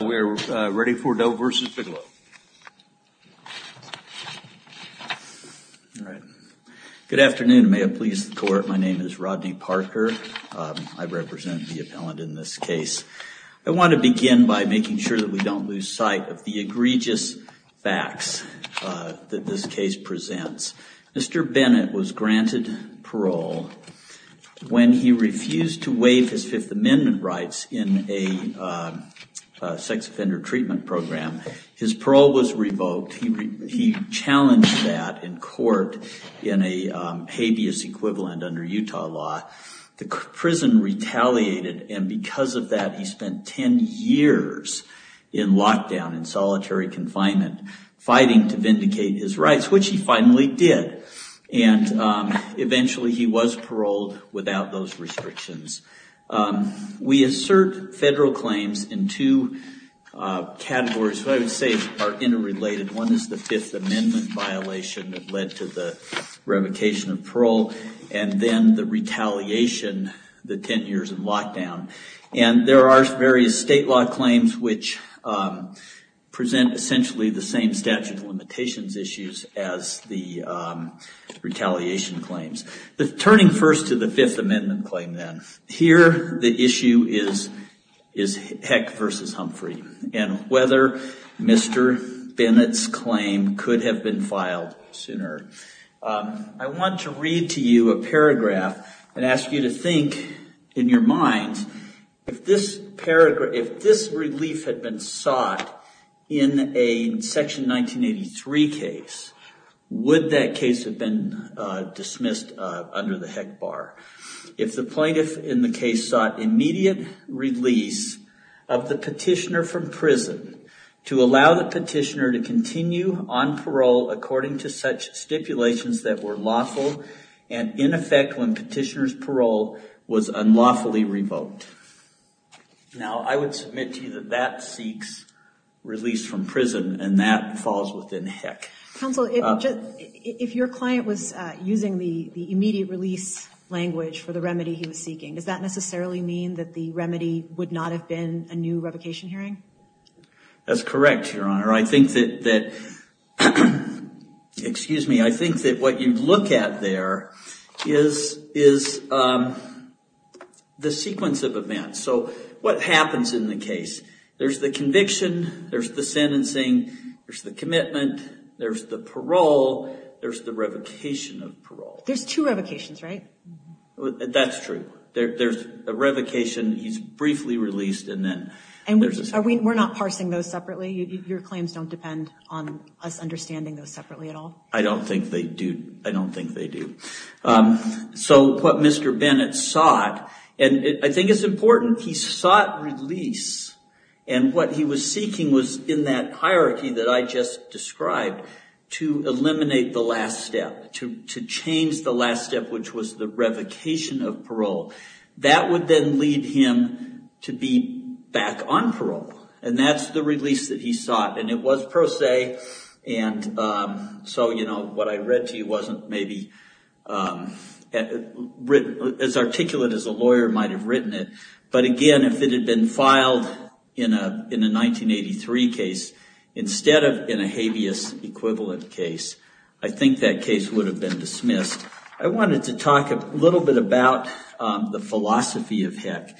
We are ready for Doe v. Bigelow. Good afternoon. May it please the court, my name is Rodney Parker. I represent the appellant in this case. I want to begin by making sure that we don't lose sight of the egregious facts that this case presents. Mr. Bennett was granted parole when he refused to waive his Fifth Amendment rights in a sex offender treatment program. His parole was revoked. He challenged that in court in a habeas equivalent under Utah law. The prison retaliated and because of that he spent 10 years in lockdown, in solitary and eventually he was paroled without those restrictions. We assert federal claims in two categories that I would say are interrelated. One is the Fifth Amendment violation that led to the revocation of parole and then the retaliation, the 10 years in lockdown. There are various state law claims which present essentially the same statute of limitations issues as the retaliation claims. Turning first to the Fifth Amendment claim then, here the issue is Heck v. Humphrey and whether Mr. Bennett's claim could have been filed sooner. I want to read to you a paragraph and ask you to think in your minds if this relief had been sought in a Section 1983 case, would that case have been dismissed under the Heck Bar? If the plaintiff in the case sought immediate release of the petitioner from prison to allow the petitioner to continue on parole according to such stipulations that were lawful and in effect when petitioner's parole was unlawfully revoked. Now, I would submit to you that that seeks release from prison and that falls within Heck. Counsel, if your client was using the immediate release language for the remedy he was seeking, does that necessarily mean that the remedy would not have been a new revocation hearing? That's correct, Your Honor. I think that, excuse me, I think that what you look at there is the sequence of events. So what happens in the case? There's the conviction, there's the sentencing, there's the commitment, there's the parole, there's the revocation of parole. There's two revocations, right? That's true. There's a revocation, he's briefly released, and then there's a second. We're not parsing those separately? Your claims don't depend on us understanding those separately at all? I don't think they do. I don't think they do. So what Mr. Bennett sought, and I think it's important, he sought release and what he was seeking was in that hierarchy that I just described to eliminate the last step, to change parole. That would then lead him to be back on parole, and that's the release that he sought, and it was pro se, and so what I read to you wasn't maybe as articulate as a lawyer might have written it. But again, if it had been filed in a 1983 case instead of in a habeas equivalent case, I think that case would have been dismissed. I wanted to talk a little bit about the philosophy of HEC,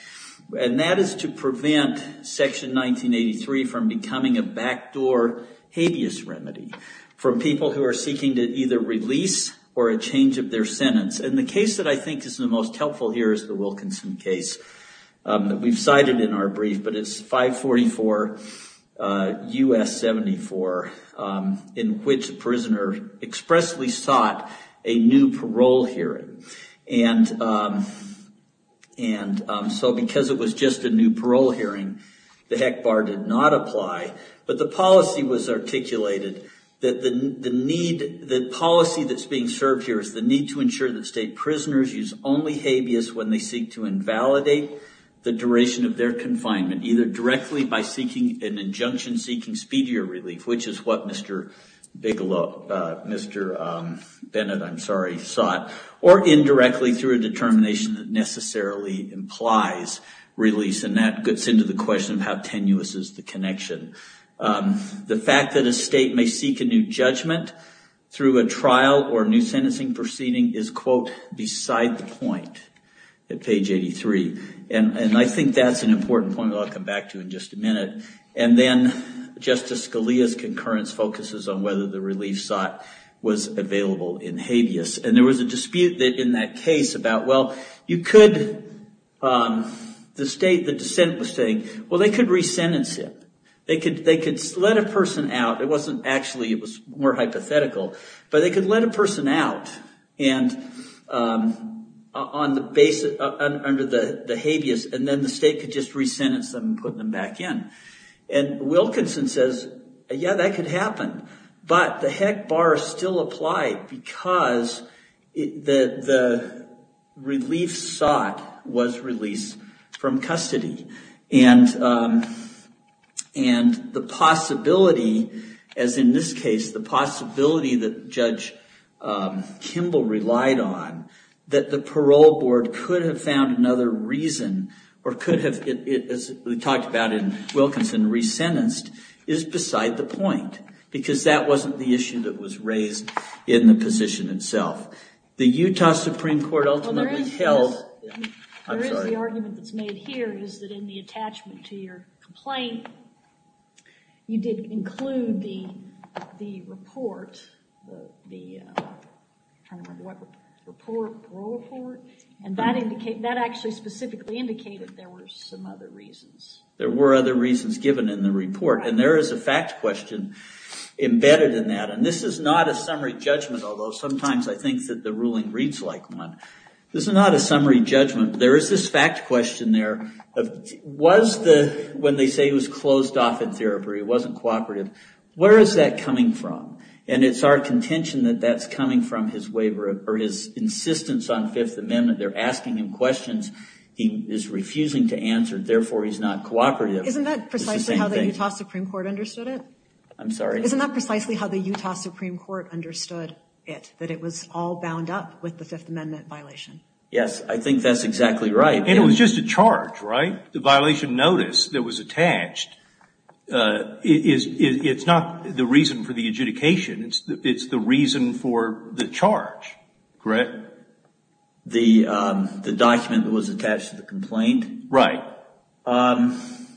and that is to prevent Section 1983 from becoming a backdoor habeas remedy for people who are seeking to either release or a change of their sentence, and the case that I think is the most helpful here is the Wilkinson case that we've cited in our brief, but it's 544 U.S. 74, in which a prisoner expressly sought a new parole hearing, and so because it was just a new parole hearing, the HEC bar did not apply, but the policy was articulated that the need, the policy that's being served here is the need to ensure that state prisoners use only habeas when they seek to invalidate the duration of their confinement, either directly by seeking an injunction seeking speedier relief, which is what Mr. Bigelow, Mr. Bennett, I'm sorry, sought, or indirectly through a determination that necessarily implies release, and that gets into the question of how tenuous is the connection. The fact that a state may seek a new judgment through a trial or a new sentencing proceeding is, quote, beside the point at page 83, and I think that's an important point that I'll come back to in just a minute, and then Justice Scalia's concurrence focuses on whether the relief sought was available in habeas, and there was a dispute in that case about, well, you could, the state, the dissent was saying, well, they could re-sentence him. They could let a person out, it wasn't actually, it was more hypothetical, but they could let a person out and on the basis, under the habeas, and then the state could just re-sentence them and put them back in, and Wilkinson says, yeah, that could happen, but the heck bar is still applied because the relief sought was release from custody, and the possibility, as in this case, the possibility that Judge Kimball relied on, that the parole board could have found another reason, or could have, as we talked about in Wilkinson, re-sentenced, is beside the point, because that wasn't the issue that was raised in the position itself. The Utah Supreme Court ultimately held, I'm sorry. The argument that's made here is that in the attachment to your complaint, you did include the report, the, I'm trying to remember what report, parole report, and that actually specifically indicated there were some other reasons. There were other reasons given in the report, and there is a fact question embedded in that, and this is not a summary judgment, although sometimes I think that the ruling reads like one. This is not a summary judgment. There is this fact question there of, was the, when they say he was closed off in therapy, he wasn't cooperative, where is that coming from? And it's our contention that that's coming from his waiver, or his insistence on Fifth Amendment. They're asking him questions he is refusing to answer, therefore he's not cooperative. Isn't that precisely how the Utah Supreme Court understood it? I'm sorry? Yes, I think that's exactly right. And it was just a charge, right? The violation notice that was attached, it's not the reason for the adjudication. It's the reason for the charge, correct? The document that was attached to the complaint. Right.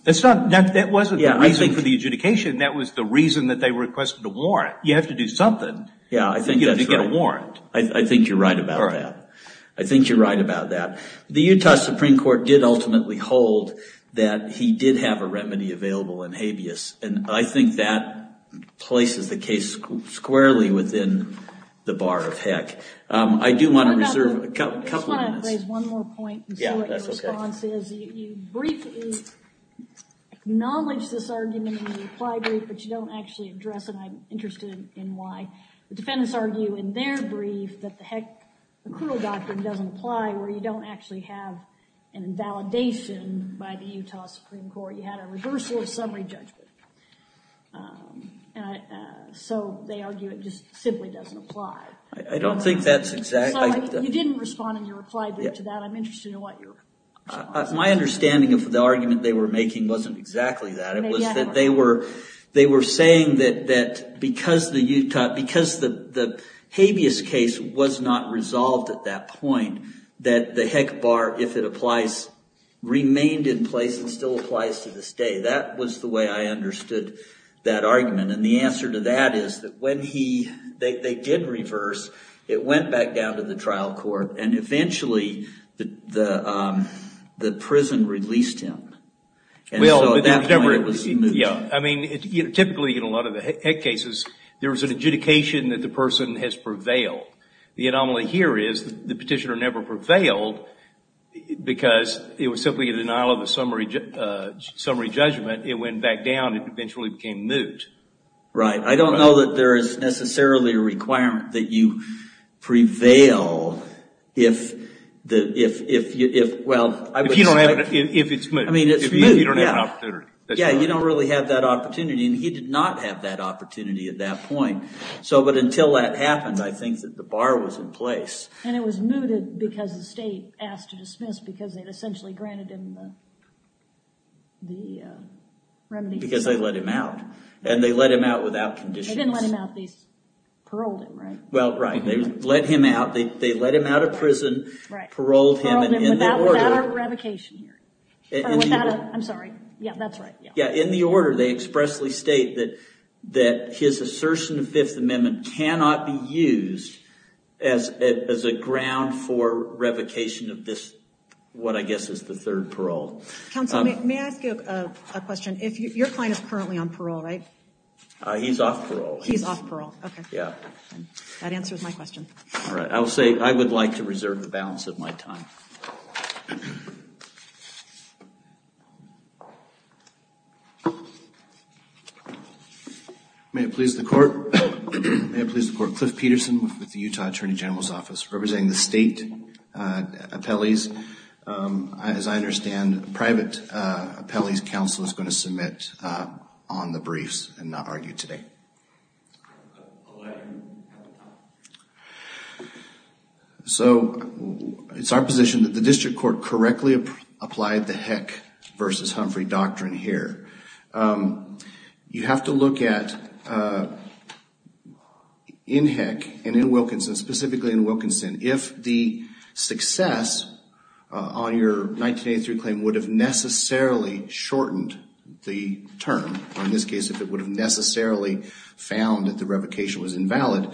That's not, that wasn't the reason for the adjudication. That was the reason that they requested a warrant. You have to do something to get a warrant. I think you're right about that. I think you're right about that. The Utah Supreme Court did ultimately hold that he did have a remedy available in habeas, and I think that places the case squarely within the bar of heck. I do want to reserve a couple of minutes. I just want to raise one more point and see what your response is. You briefly acknowledge this argument in the reply brief, but you don't actually address it. I'm interested in why. The defendants argue in their brief that the heck, the cruel doctrine doesn't apply where you don't actually have an invalidation by the Utah Supreme Court. You had a reversal of summary judgment. So they argue it just simply doesn't apply. I don't think that's exactly. You didn't respond in your reply brief to that. I'm interested in what your response is. My understanding of the argument they were making wasn't exactly that. It was that they were saying that because the habeas case was not resolved at that point, that the heck bar, if it applies, remained in place and still applies to this day. That was the way I understood that argument, and the answer to that is that when they did reverse, it went back down to the trial court, and eventually the prison released him. At that point, it was moot. Typically, in a lot of the heck cases, there was an adjudication that the person has prevailed. The anomaly here is the petitioner never prevailed because it was simply a denial of the summary judgment. It went back down and eventually became moot. Right. I don't know that there is necessarily a requirement that you prevail if, well, I would say. If it's moot. If you don't have an opportunity. Yeah, you don't really have that opportunity, and he did not have that opportunity at that point. But until that happened, I think that the bar was in place. And it was mooted because the state asked to dismiss because they had essentially granted him the remedy. Because they let him out, and they let him out without conditions. They didn't let him out. They paroled him, right? Well, right. They let him out. They let him out of prison, paroled him, and ended the order. Paroled him without a revocation hearing. I'm sorry. Yeah, that's right. Yeah. In the order, they expressly state that his assertion of Fifth Amendment cannot be used as a ground for revocation of this, what I guess is the third parole. Counsel, may I ask you a question? Your client is currently on parole, right? He's off parole. He's off parole. Okay. Yeah. That answers my question. All right. I will say, I would like to reserve the balance of my time. May it please the court. May it please the court. Cliff Peterson with the Utah Attorney General's Office, representing the state appellees. As I understand, a private appellee's counsel is going to submit on the briefs and not argue today. So, it's our position that the district court correctly applied the Heck versus Humphrey doctrine here. You have to look at, in Heck and in Wilkinson, specifically in Wilkinson, if the success on your 1983 claim would have necessarily shortened the term, or in this case, if it would have necessarily found that the revocation was invalid,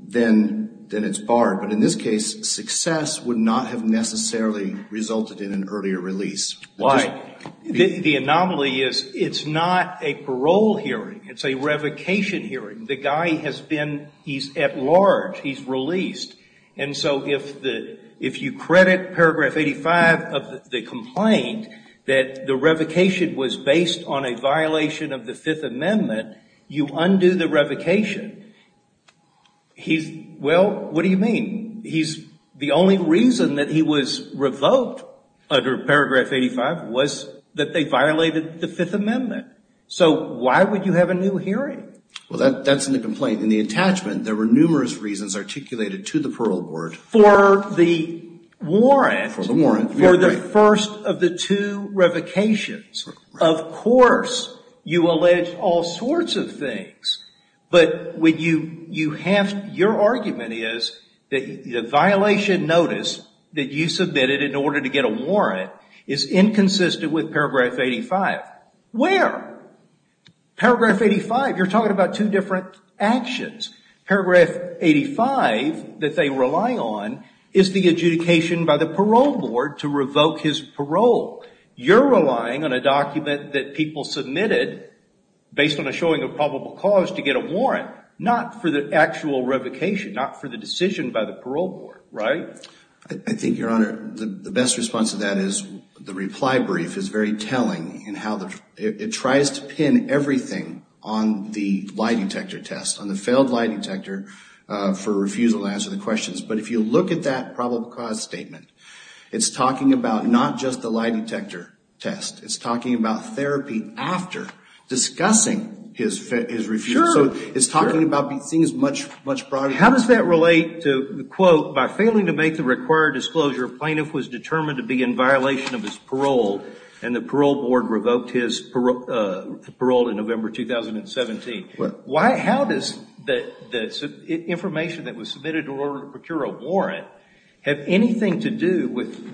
then it's barred. But in this case, success would not have necessarily resulted in an earlier release. Why? The anomaly is, it's not a parole hearing, it's a revocation hearing. The guy has been, he's at large, he's released. And so, if you credit Paragraph 85 of the complaint that the revocation was based on a violation of the Fifth Amendment, you undo the revocation, he's, well, what do you mean? The only reason that he was revoked under Paragraph 85 was that they violated the Fifth Amendment. So, why would you have a new hearing? Well, that's in the complaint. In the attachment, there were numerous reasons articulated to the parole board. For the warrant, for the first of the two revocations, of course, you allege all sorts of things. But when you have, your argument is that the violation notice that you submitted in order to get a warrant is inconsistent with Paragraph 85. Where? Paragraph 85, you're talking about two different actions. Paragraph 85 that they rely on is the adjudication by the parole board to revoke his parole. You're relying on a document that people submitted based on a showing of probable cause to get a warrant, not for the actual revocation, not for the decision by the parole board, right? I think, Your Honor, the best response to that is the reply brief is very telling in how it tries to pin everything on the lie detector test, on the failed lie detector for refusal to answer the questions. But if you look at that probable cause statement, it's talking about not just the lie detector test. It's talking about therapy after discussing his refusal. Sure. So, it's talking about things much broader. How does that relate to, quote, by failing to make the required disclosure, a plaintiff was determined to be in violation of his parole and the parole board revoked his parole in November 2017. How does the information that was submitted in order to procure a warrant have anything to do with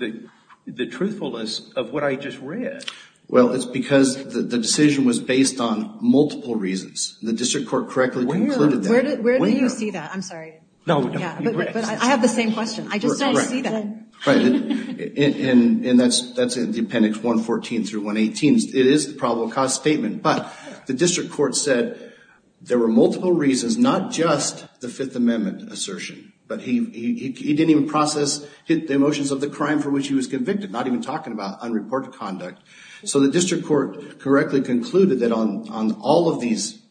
the truthfulness of what I just read? Well, it's because the decision was based on multiple reasons. The district court correctly concluded that. Where do you see that? I'm sorry. No. But I have the same question. I just don't see that. Go ahead. Right. And that's in the appendix 114 through 118. It is the probable cause statement. But the district court said there were multiple reasons, not just the Fifth Amendment assertion. But he didn't even process the emotions of the crime for which he was convicted. Not even talking about unreported conduct. So the district court correctly concluded that on all of these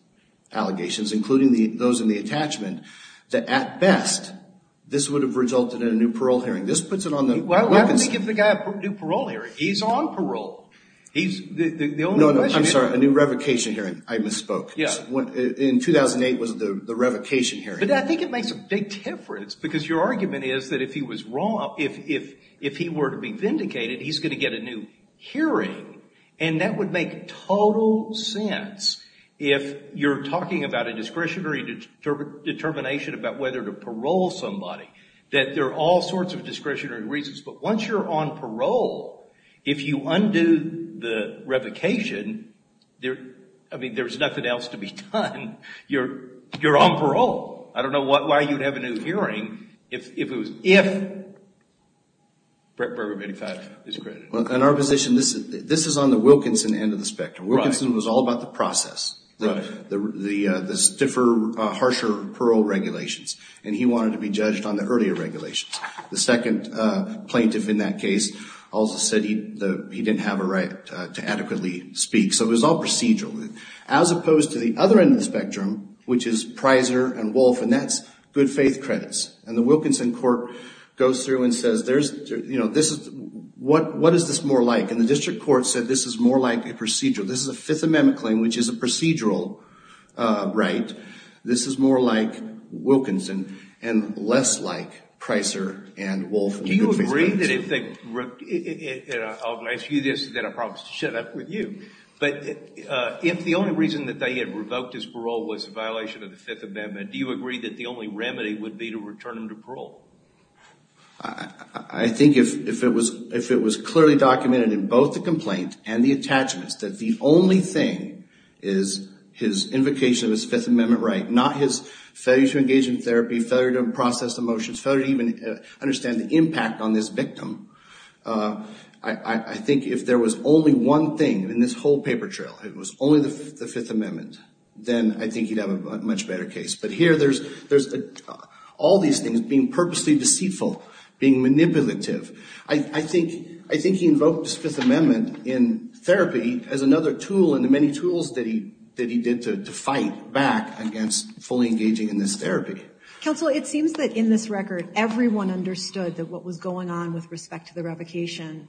allegations, including those in the attachment, that at best, this would have resulted in a new parole hearing. Why wouldn't they give the guy a new parole hearing? He's on parole. The only question is... No, no. I'm sorry. A new revocation hearing. I misspoke. Yeah. In 2008 was the revocation hearing. But I think it makes a big difference. Because your argument is that if he were to be vindicated, he's going to get a new hearing. And that would make total sense if you're talking about a discretionary determination about whether to parole somebody. That there are all sorts of discretionary reasons. But once you're on parole, if you undo the revocation, there's nothing else to be done. You're on parole. I don't know why you'd have a new hearing if it was... If Brevard 85 is credited. In our position, this is on the Wilkinson end of the spectrum. Wilkinson was all about the process. The stiffer, harsher parole regulations. And he wanted to be judged on the earlier regulations. The second plaintiff in that case also said he didn't have a right to adequately speak. So it was all procedural. As opposed to the other end of the spectrum, which is Prysor and Wolf, and that's good faith credits. And the Wilkinson court goes through and says, what is this more like? And the district court said this is more like a procedure. This is a Fifth Amendment claim, which is a procedural right. This is more like Wilkinson, and less like Prysor and Wolf. Do you agree that if they... I'll ask you this, then I'll probably shut up with you. But if the only reason that they had revoked his parole was a violation of the Fifth Amendment, do you agree that the only remedy would be to return him to parole? I think if it was clearly documented in both the complaint and the attachments that the only thing is his invocation of his Fifth Amendment right, not his failure to engage in therapy, failure to process emotions, failure to even understand the impact on this victim. I think if there was only one thing in this whole paper trail, if it was only the Fifth Amendment, then I think he'd have a much better case. But here there's all these things being purposely deceitful, being manipulative. I think he invoked his Fifth Amendment in therapy as another tool in the many tools that he did to fight back against fully engaging in this therapy. Counsel, it seems that in this record, everyone understood that what was going on with respect to the revocation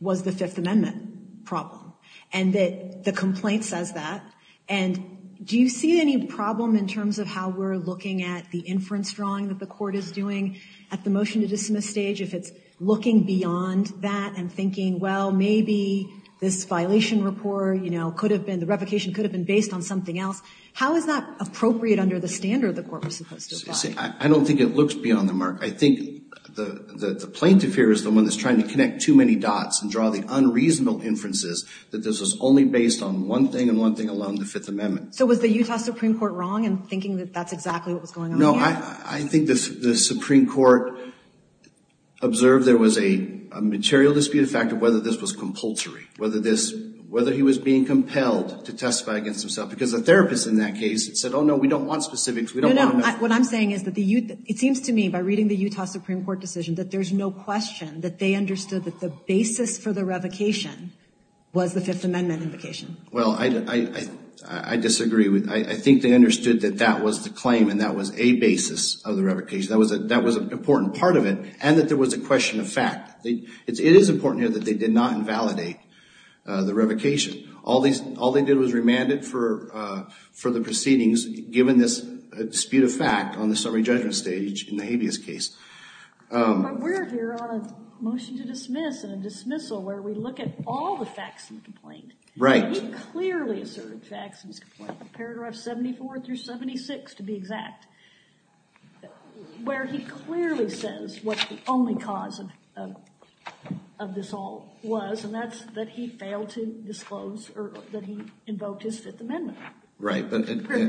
was the Fifth Amendment problem, and that the complaint says that. And do you see any problem in terms of how we're looking at the inference drawing that the court is doing at the motion to dismiss stage, if it's looking beyond that and thinking, well, maybe this violation report, you know, could have been, the revocation could have been based on something else. How is that appropriate under the standard the court was supposed to apply? I don't think it looks beyond the mark. I think the plaintiff here is the one that's trying to connect too many dots and draw the Fifth Amendment. So was the Utah Supreme Court wrong in thinking that that's exactly what was going on here? No, I think the Supreme Court observed there was a material dispute of fact of whether this was compulsory, whether this, whether he was being compelled to testify against himself because the therapist in that case said, oh, no, we don't want specifics. We don't know. What I'm saying is that the, it seems to me by reading the Utah Supreme Court decision that there's no question that they understood that the basis for the revocation was the Fifth Amendment invocation. Well, I disagree with, I think they understood that that was the claim and that was a basis of the revocation. That was a, that was an important part of it and that there was a question of fact. It is important here that they did not invalidate the revocation. All these, all they did was remanded for, for the proceedings given this dispute of fact on the summary judgment stage in the habeas case. But we're here on a motion to dismiss and a dismissal where we look at all the facts in the complaint. Right. He clearly asserted facts in his complaint, paragraph 74 through 76 to be exact, where he clearly says what the only cause of, of, of this all was and that's that he failed to disclose or that he invoked his Fifth Amendment. Right.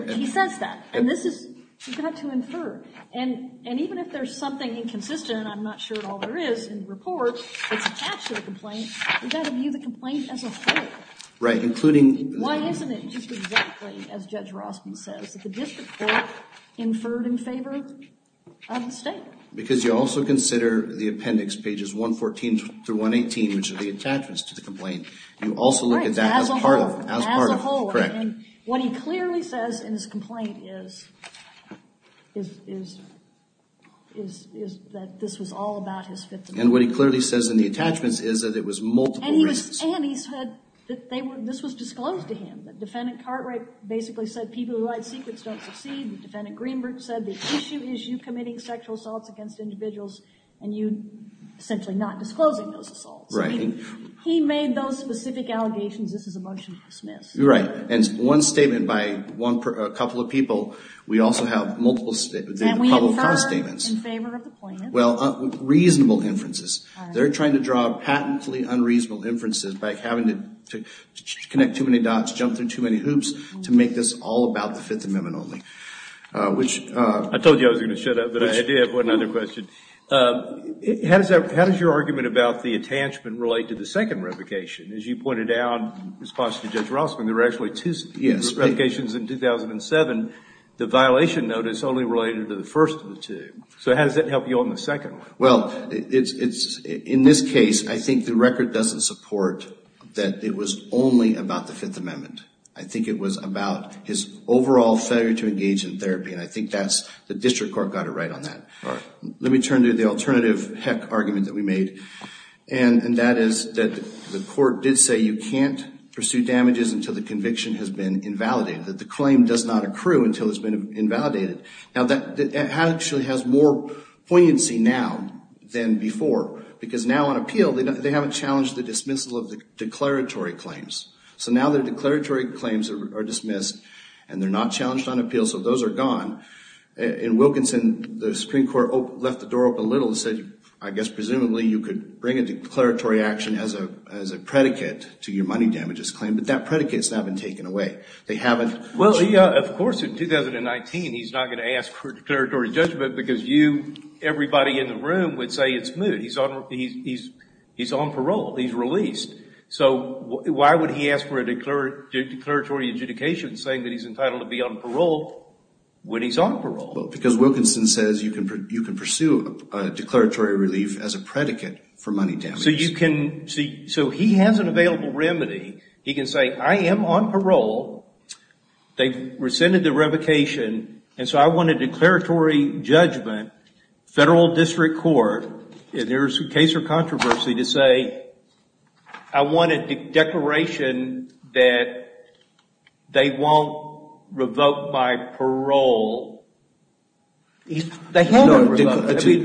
He says that. And this is, you've got to infer. And, and even if there's something inconsistent, I'm not sure at all there is in the report that's attached to the complaint, you've got to view the complaint as a whole. Right. Including. Why isn't it just exactly, as Judge Rospin says, that the district court inferred in favor of the state? Because you also consider the appendix, pages 114 through 118, which are the attachments to the complaint. You also look at that as part of, as part of. Right. As a whole. As a whole. Correct. And what he clearly says in his complaint is, is, is, is that this was all about his Fifth Amendment. Right. And what he clearly says in the attachments is that it was multiple reasons. And he was, and he said that they were, this was disclosed to him, that Defendant Cartwright basically said people who hide secrets don't succeed, that Defendant Greenberg said the issue is you committing sexual assaults against individuals and you essentially not disclosing those assaults. Right. He, he made those specific allegations. This is a motion to dismiss. Right. And one statement by one per, a couple of people, we also have multiple, the probable cause statements. And we infer in favor of the plaintiff. Well, reasonable inferences. All right. They're trying to draw patently unreasonable inferences by having to connect too many dots, jump through too many hoops to make this all about the Fifth Amendment only. Which. I told you I was going to shut up, but I did have one other question. How does that, how does your argument about the attachment relate to the second revocation? As you pointed out in response to Judge Rossman, there were actually two revocations in 2007. The violation notice only related to the first of the two. So how does that help you on the second? Well, it's, it's, in this case, I think the record doesn't support that it was only about the Fifth Amendment. I think it was about his overall failure to engage in therapy. And I think that's, the district court got it right on that. All right. Let me turn to the alternative heck argument that we made. And that is that the court did say you can't pursue damages until the conviction has been invalidated. That the claim does not accrue until it's been invalidated. Now, that actually has more poignancy now than before. Because now on appeal, they haven't challenged the dismissal of the declaratory claims. So now the declaratory claims are dismissed and they're not challenged on appeal, so those are gone. In Wilkinson, the Supreme Court left the door open a little and said, I guess, presumably you could bring a declaratory action as a, as a predicate to your money damages claim. But that predicate's not been taken away. They haven't. Well, of course, in 2019, he's not going to ask for a declaratory judgment because you, everybody in the room would say it's moot. He's on parole. He's released. So why would he ask for a declaratory adjudication saying that he's entitled to be on parole when he's on parole? Well, because Wilkinson says you can pursue a declaratory relief as a predicate for money damages. So you can, so he has an available remedy. He can say, I am on parole. They've rescinded the revocation and so I want a declaratory judgment, federal district court. If there's a case or controversy to say, I want a declaration that they won't revoke my parole. The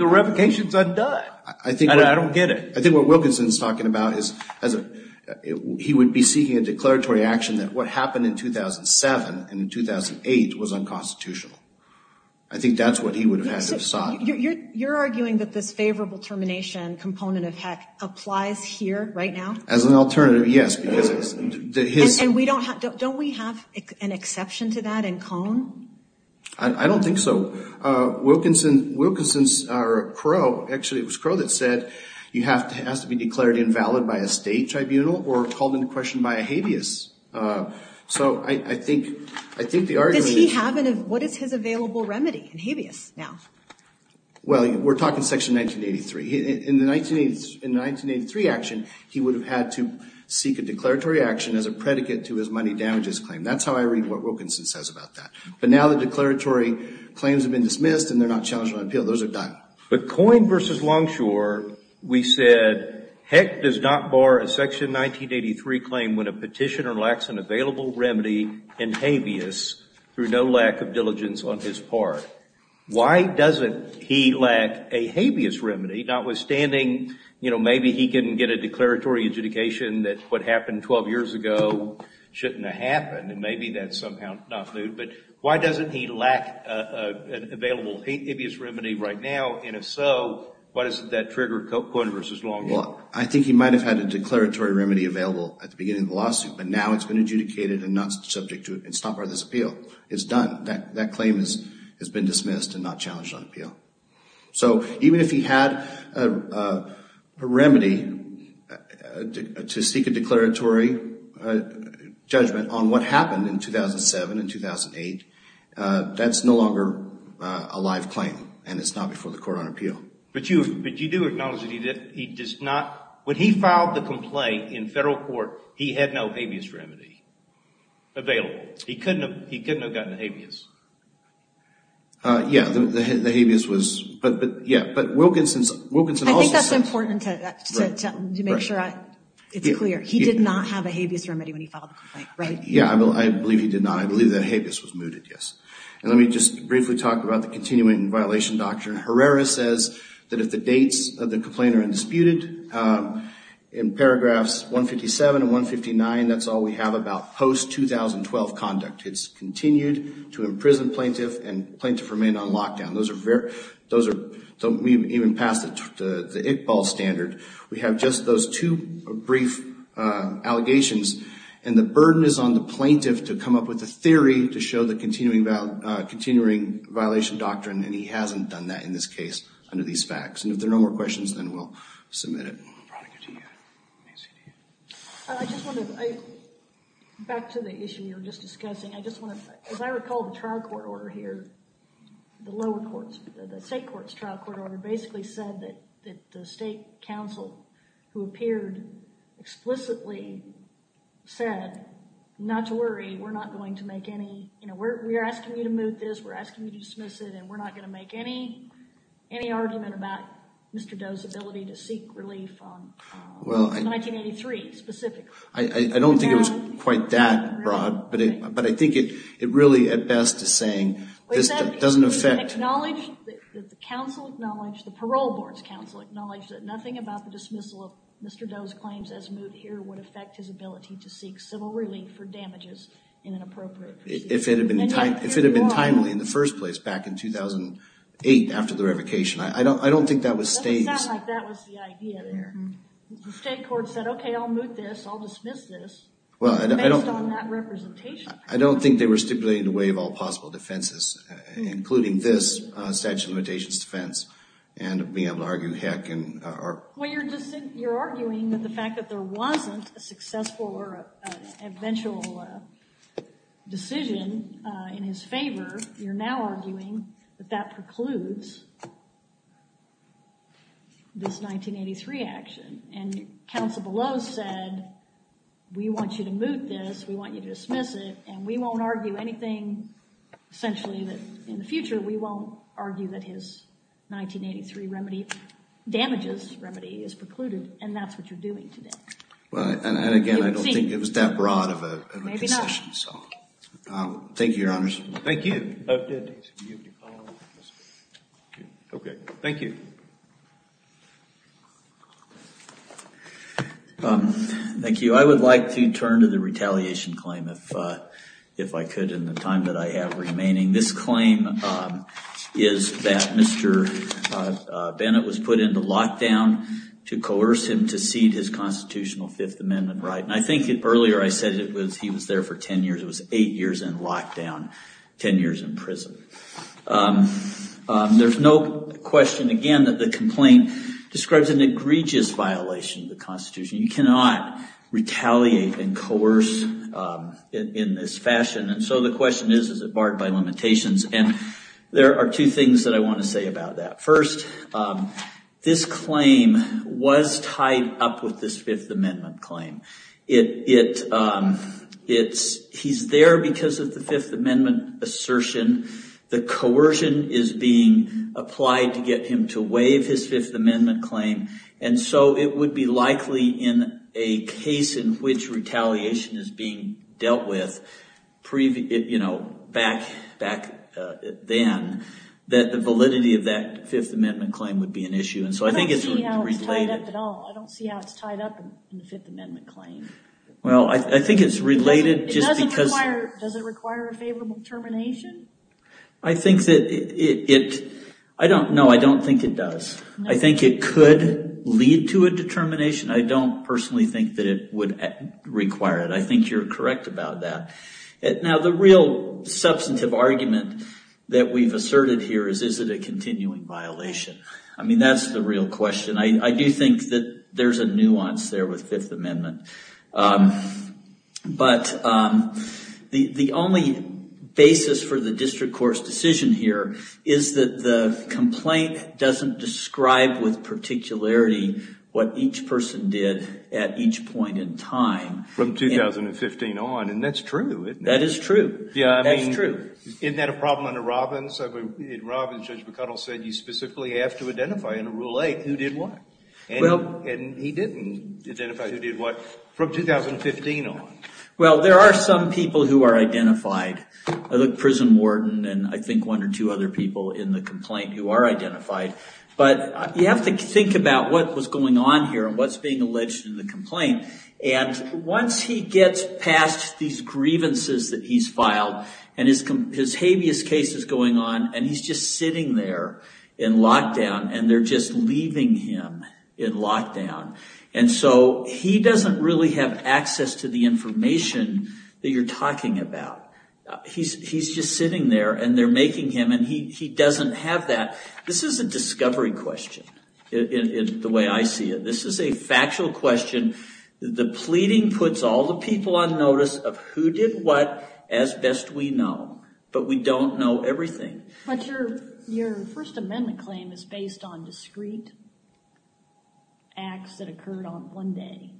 revocation's undone. And I don't get it. I think what Wilkinson's talking about is as a, he would be seeking a declaratory action that what happened in 2007 and in 2008 was unconstitutional. I think that's what he would have had to have sought. You're arguing that this favorable termination component of heck applies here right now? As an alternative. Yes. Because his- And we don't have, don't we have an exception to that in Cone? I don't think so. Wilkinson, Wilkinson's or Crow, actually it was Crow that said, you have to, it has to be declared invalid by a state tribunal or called into question by a habeas. So I think, I think the argument is- Does he have an, what is his available remedy in habeas now? Well, we're talking section 1983. In the 1980s, in the 1983 action, he would have had to seek a declaratory action as a predicate to his money damages claim. That's how I read what Wilkinson says about that. But now the declaratory claims have been dismissed and they're not challenged by appeal. Those are done. But Coyne versus Longshore, we said, heck does not bar a section 1983 claim when a petitioner lacks an available remedy in habeas through no lack of diligence on his part. Why doesn't he lack a habeas remedy, notwithstanding, you know, maybe he can get a declaratory adjudication that what happened 12 years ago shouldn't have happened and maybe that's somehow not true, but why doesn't he lack an available habeas remedy right now and if so, why doesn't that trigger Coyne versus Longshore? I think he might have had a declaratory remedy available at the beginning of the lawsuit, but now it's been adjudicated and not subject to, it's not part of this appeal. It's done. That claim has been dismissed and not challenged on appeal. So, even if he had a remedy to seek a declaratory judgment on what happened in 2007 and 2008, that's no longer a live claim and it's not before the court on appeal. But you do acknowledge that he does not, when he filed the complaint in federal court, he had no habeas remedy available. He couldn't have gotten a habeas. Yeah, the habeas was, but yeah, but Wilkinson's, Wilkinson also said... I think that's important to make sure it's clear. He did not have a habeas remedy when he filed the complaint, right? Yeah, I believe he did not. I believe that habeas was mooted, yes. And let me just briefly talk about the continuing violation doctrine. Herrera says that if the dates of the complaint are undisputed, in paragraphs 157 and 159, that's all we have about post-2012 conduct. It's continued to imprison plaintiff and plaintiff remained on lockdown. Those are very, those are, don't even pass the Iqbal standard. We have just those two brief allegations and the burden is on the plaintiff to come up with a theory to show the continuing violation doctrine and he hasn't done that in this case under these facts. And if there are no more questions, then we'll submit it. I just want to, back to the issue you were just discussing, I just want to, as I recall the trial court order here, the lower courts, the state court's trial court order basically said that the state counsel who appeared explicitly said not to worry, we're not going to make any, you know, we're asking you to move this, we're asking you to dismiss it, and we're not going to make any argument about Mr. Doe's ability to seek relief on 1983 specifically. I don't think it was quite that broad, but I think it really at best is saying this doesn't affect. The counsel acknowledged, the parole board's counsel acknowledged that nothing about the dismissal of Mr. Doe's claims as moved here would affect his ability to seek civil relief for damages in an appropriate procedure. If it had been timely in the first place back in 2008 after the revocation, I don't think that would stay. It doesn't sound like that was the idea there. The state court said, okay, I'll move this, I'll dismiss this, based on that representation. I don't think they were stipulating the way of all possible defenses, including this statute of limitations defense, and being able to argue heck. Well, you're arguing that the fact that there wasn't a successful or eventual decision in his favor, you're now arguing that that precludes this 1983 action. And counsel below said, we want you to move this, we want you to dismiss it, and we won't argue anything essentially that in the future we won't argue that his 1983 remedy damages remedy is precluded, and that's what you're doing today. And again, I don't think it was that broad of a decision. Thank you, Your Honors. Thank you. Okay, thank you. Thank you. I would like to turn to the retaliation claim, if I could, in the time that I have remaining. This claim is that Mr. Bennett was put into lockdown to coerce him to cede his constitutional Fifth Amendment right. And I think earlier I said he was there for ten years. It was eight years in lockdown, ten years in prison. There's no question, again, that the complaint describes an egregious violation of the Constitution. You cannot retaliate and coerce in this fashion. And so the question is, is it barred by limitations? And there are two things that I want to say about that. First, this claim was tied up with this Fifth Amendment claim. He's there because of the Fifth Amendment assertion. The coercion is being applied to get him to waive his Fifth Amendment claim, and so it would be likely in a case in which retaliation is being dealt with, back then, that the validity of that Fifth Amendment claim would be an issue. And so I think it's related. I don't see how it's tied up at all. I don't see how it's tied up in the Fifth Amendment claim. Well, I think it's related just because – Does it require a favorable termination? I think that it – no, I don't think it does. I think it could lead to a determination. I don't personally think that it would require it. I think you're correct about that. Now, the real substantive argument that we've asserted here is, is it a continuing violation? I mean, that's the real question. I do think that there's a nuance there with Fifth Amendment. But the only basis for the district court's decision here is that the complaint doesn't describe with particularity what each person did at each point in time. From 2015 on, and that's true, isn't it? That is true. Yeah, I mean – That's true. Isn't that a problem under Robbins? In Robbins, Judge McConnell said you specifically have to identify in Rule 8 who did what. And he didn't identify who did what from 2015 on. Well, there are some people who are identified. Prison warden and I think one or two other people in the complaint who are identified. and what's being alleged in the complaint. And once he gets past these grievances that he's filed, and his habeas case is going on, and he's just sitting there in lockdown, and they're just leaving him in lockdown. And so he doesn't really have access to the information that you're talking about. He's just sitting there, and they're making him, and he doesn't have that. This is a discovery question, the way I see it. This is a factual question. The pleading puts all the people on notice of who did what as best we know. But we don't know everything. But your First Amendment claim is based on discrete acts that occurred on one day,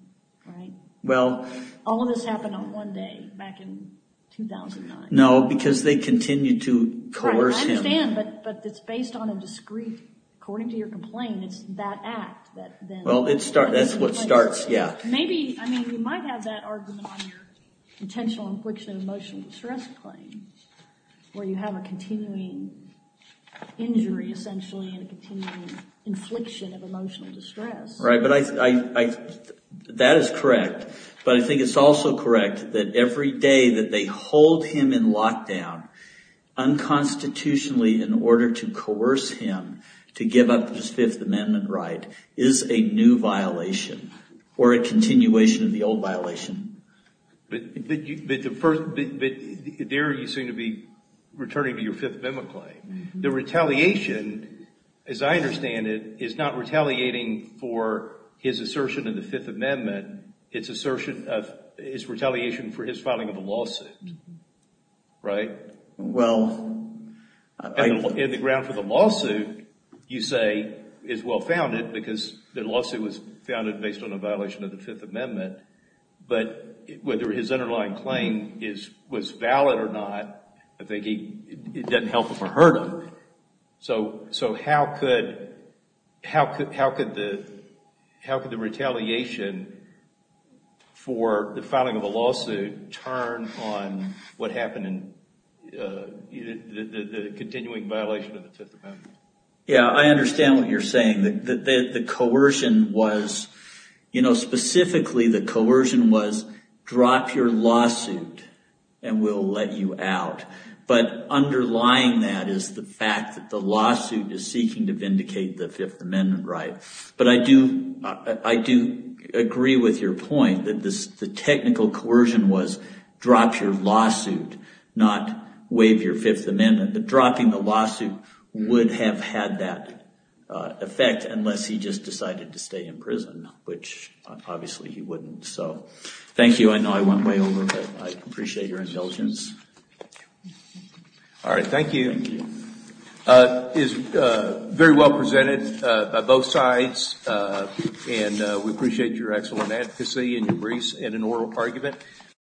right? Well – All of this happened on one day, back in 2009. No, because they continued to coerce him. I understand, but it's based on a discrete – according to your complaint, it's that act that – Well, that's what starts, yeah. Maybe, I mean, you might have that argument on your intentional infliction of emotional distress claim, where you have a continuing injury, essentially, and a continuing infliction of emotional distress. Right, but I – that is correct. But I think it's also correct that every day that they hold him in lockdown, unconstitutionally, in order to coerce him to give up his Fifth Amendment right, is a new violation or a continuation of the old violation. But the first – there you seem to be returning to your Fifth Amendment claim. The retaliation, as I understand it, is not retaliating for his assertion of the Fifth Amendment. It's assertion of – it's retaliation for his filing of a lawsuit, right? Well, I – And the ground for the lawsuit, you say, is well founded, because the lawsuit was founded based on a violation of the Fifth Amendment. But whether his underlying claim is – was valid or not, I think he – it doesn't help if we're hurt. So how could – how could the retaliation for the filing of a lawsuit turn on what happened in the continuing violation of the Fifth Amendment? Yeah, I understand what you're saying. The coercion was – you know, specifically, the coercion was drop your lawsuit and we'll let you out. But underlying that is the fact that the lawsuit is seeking to vindicate the Fifth Amendment right. But I do – I do agree with your point that the technical coercion was drop your lawsuit, not waive your Fifth Amendment. But dropping the lawsuit would have had that effect unless he just decided to stay in prison, which obviously he wouldn't. So thank you. I know I went way over, but I appreciate your intelligence. Thank you. All right, thank you. Thank you. It is very well presented by both sides, and we appreciate your excellent advocacy and your briefs and an oral argument.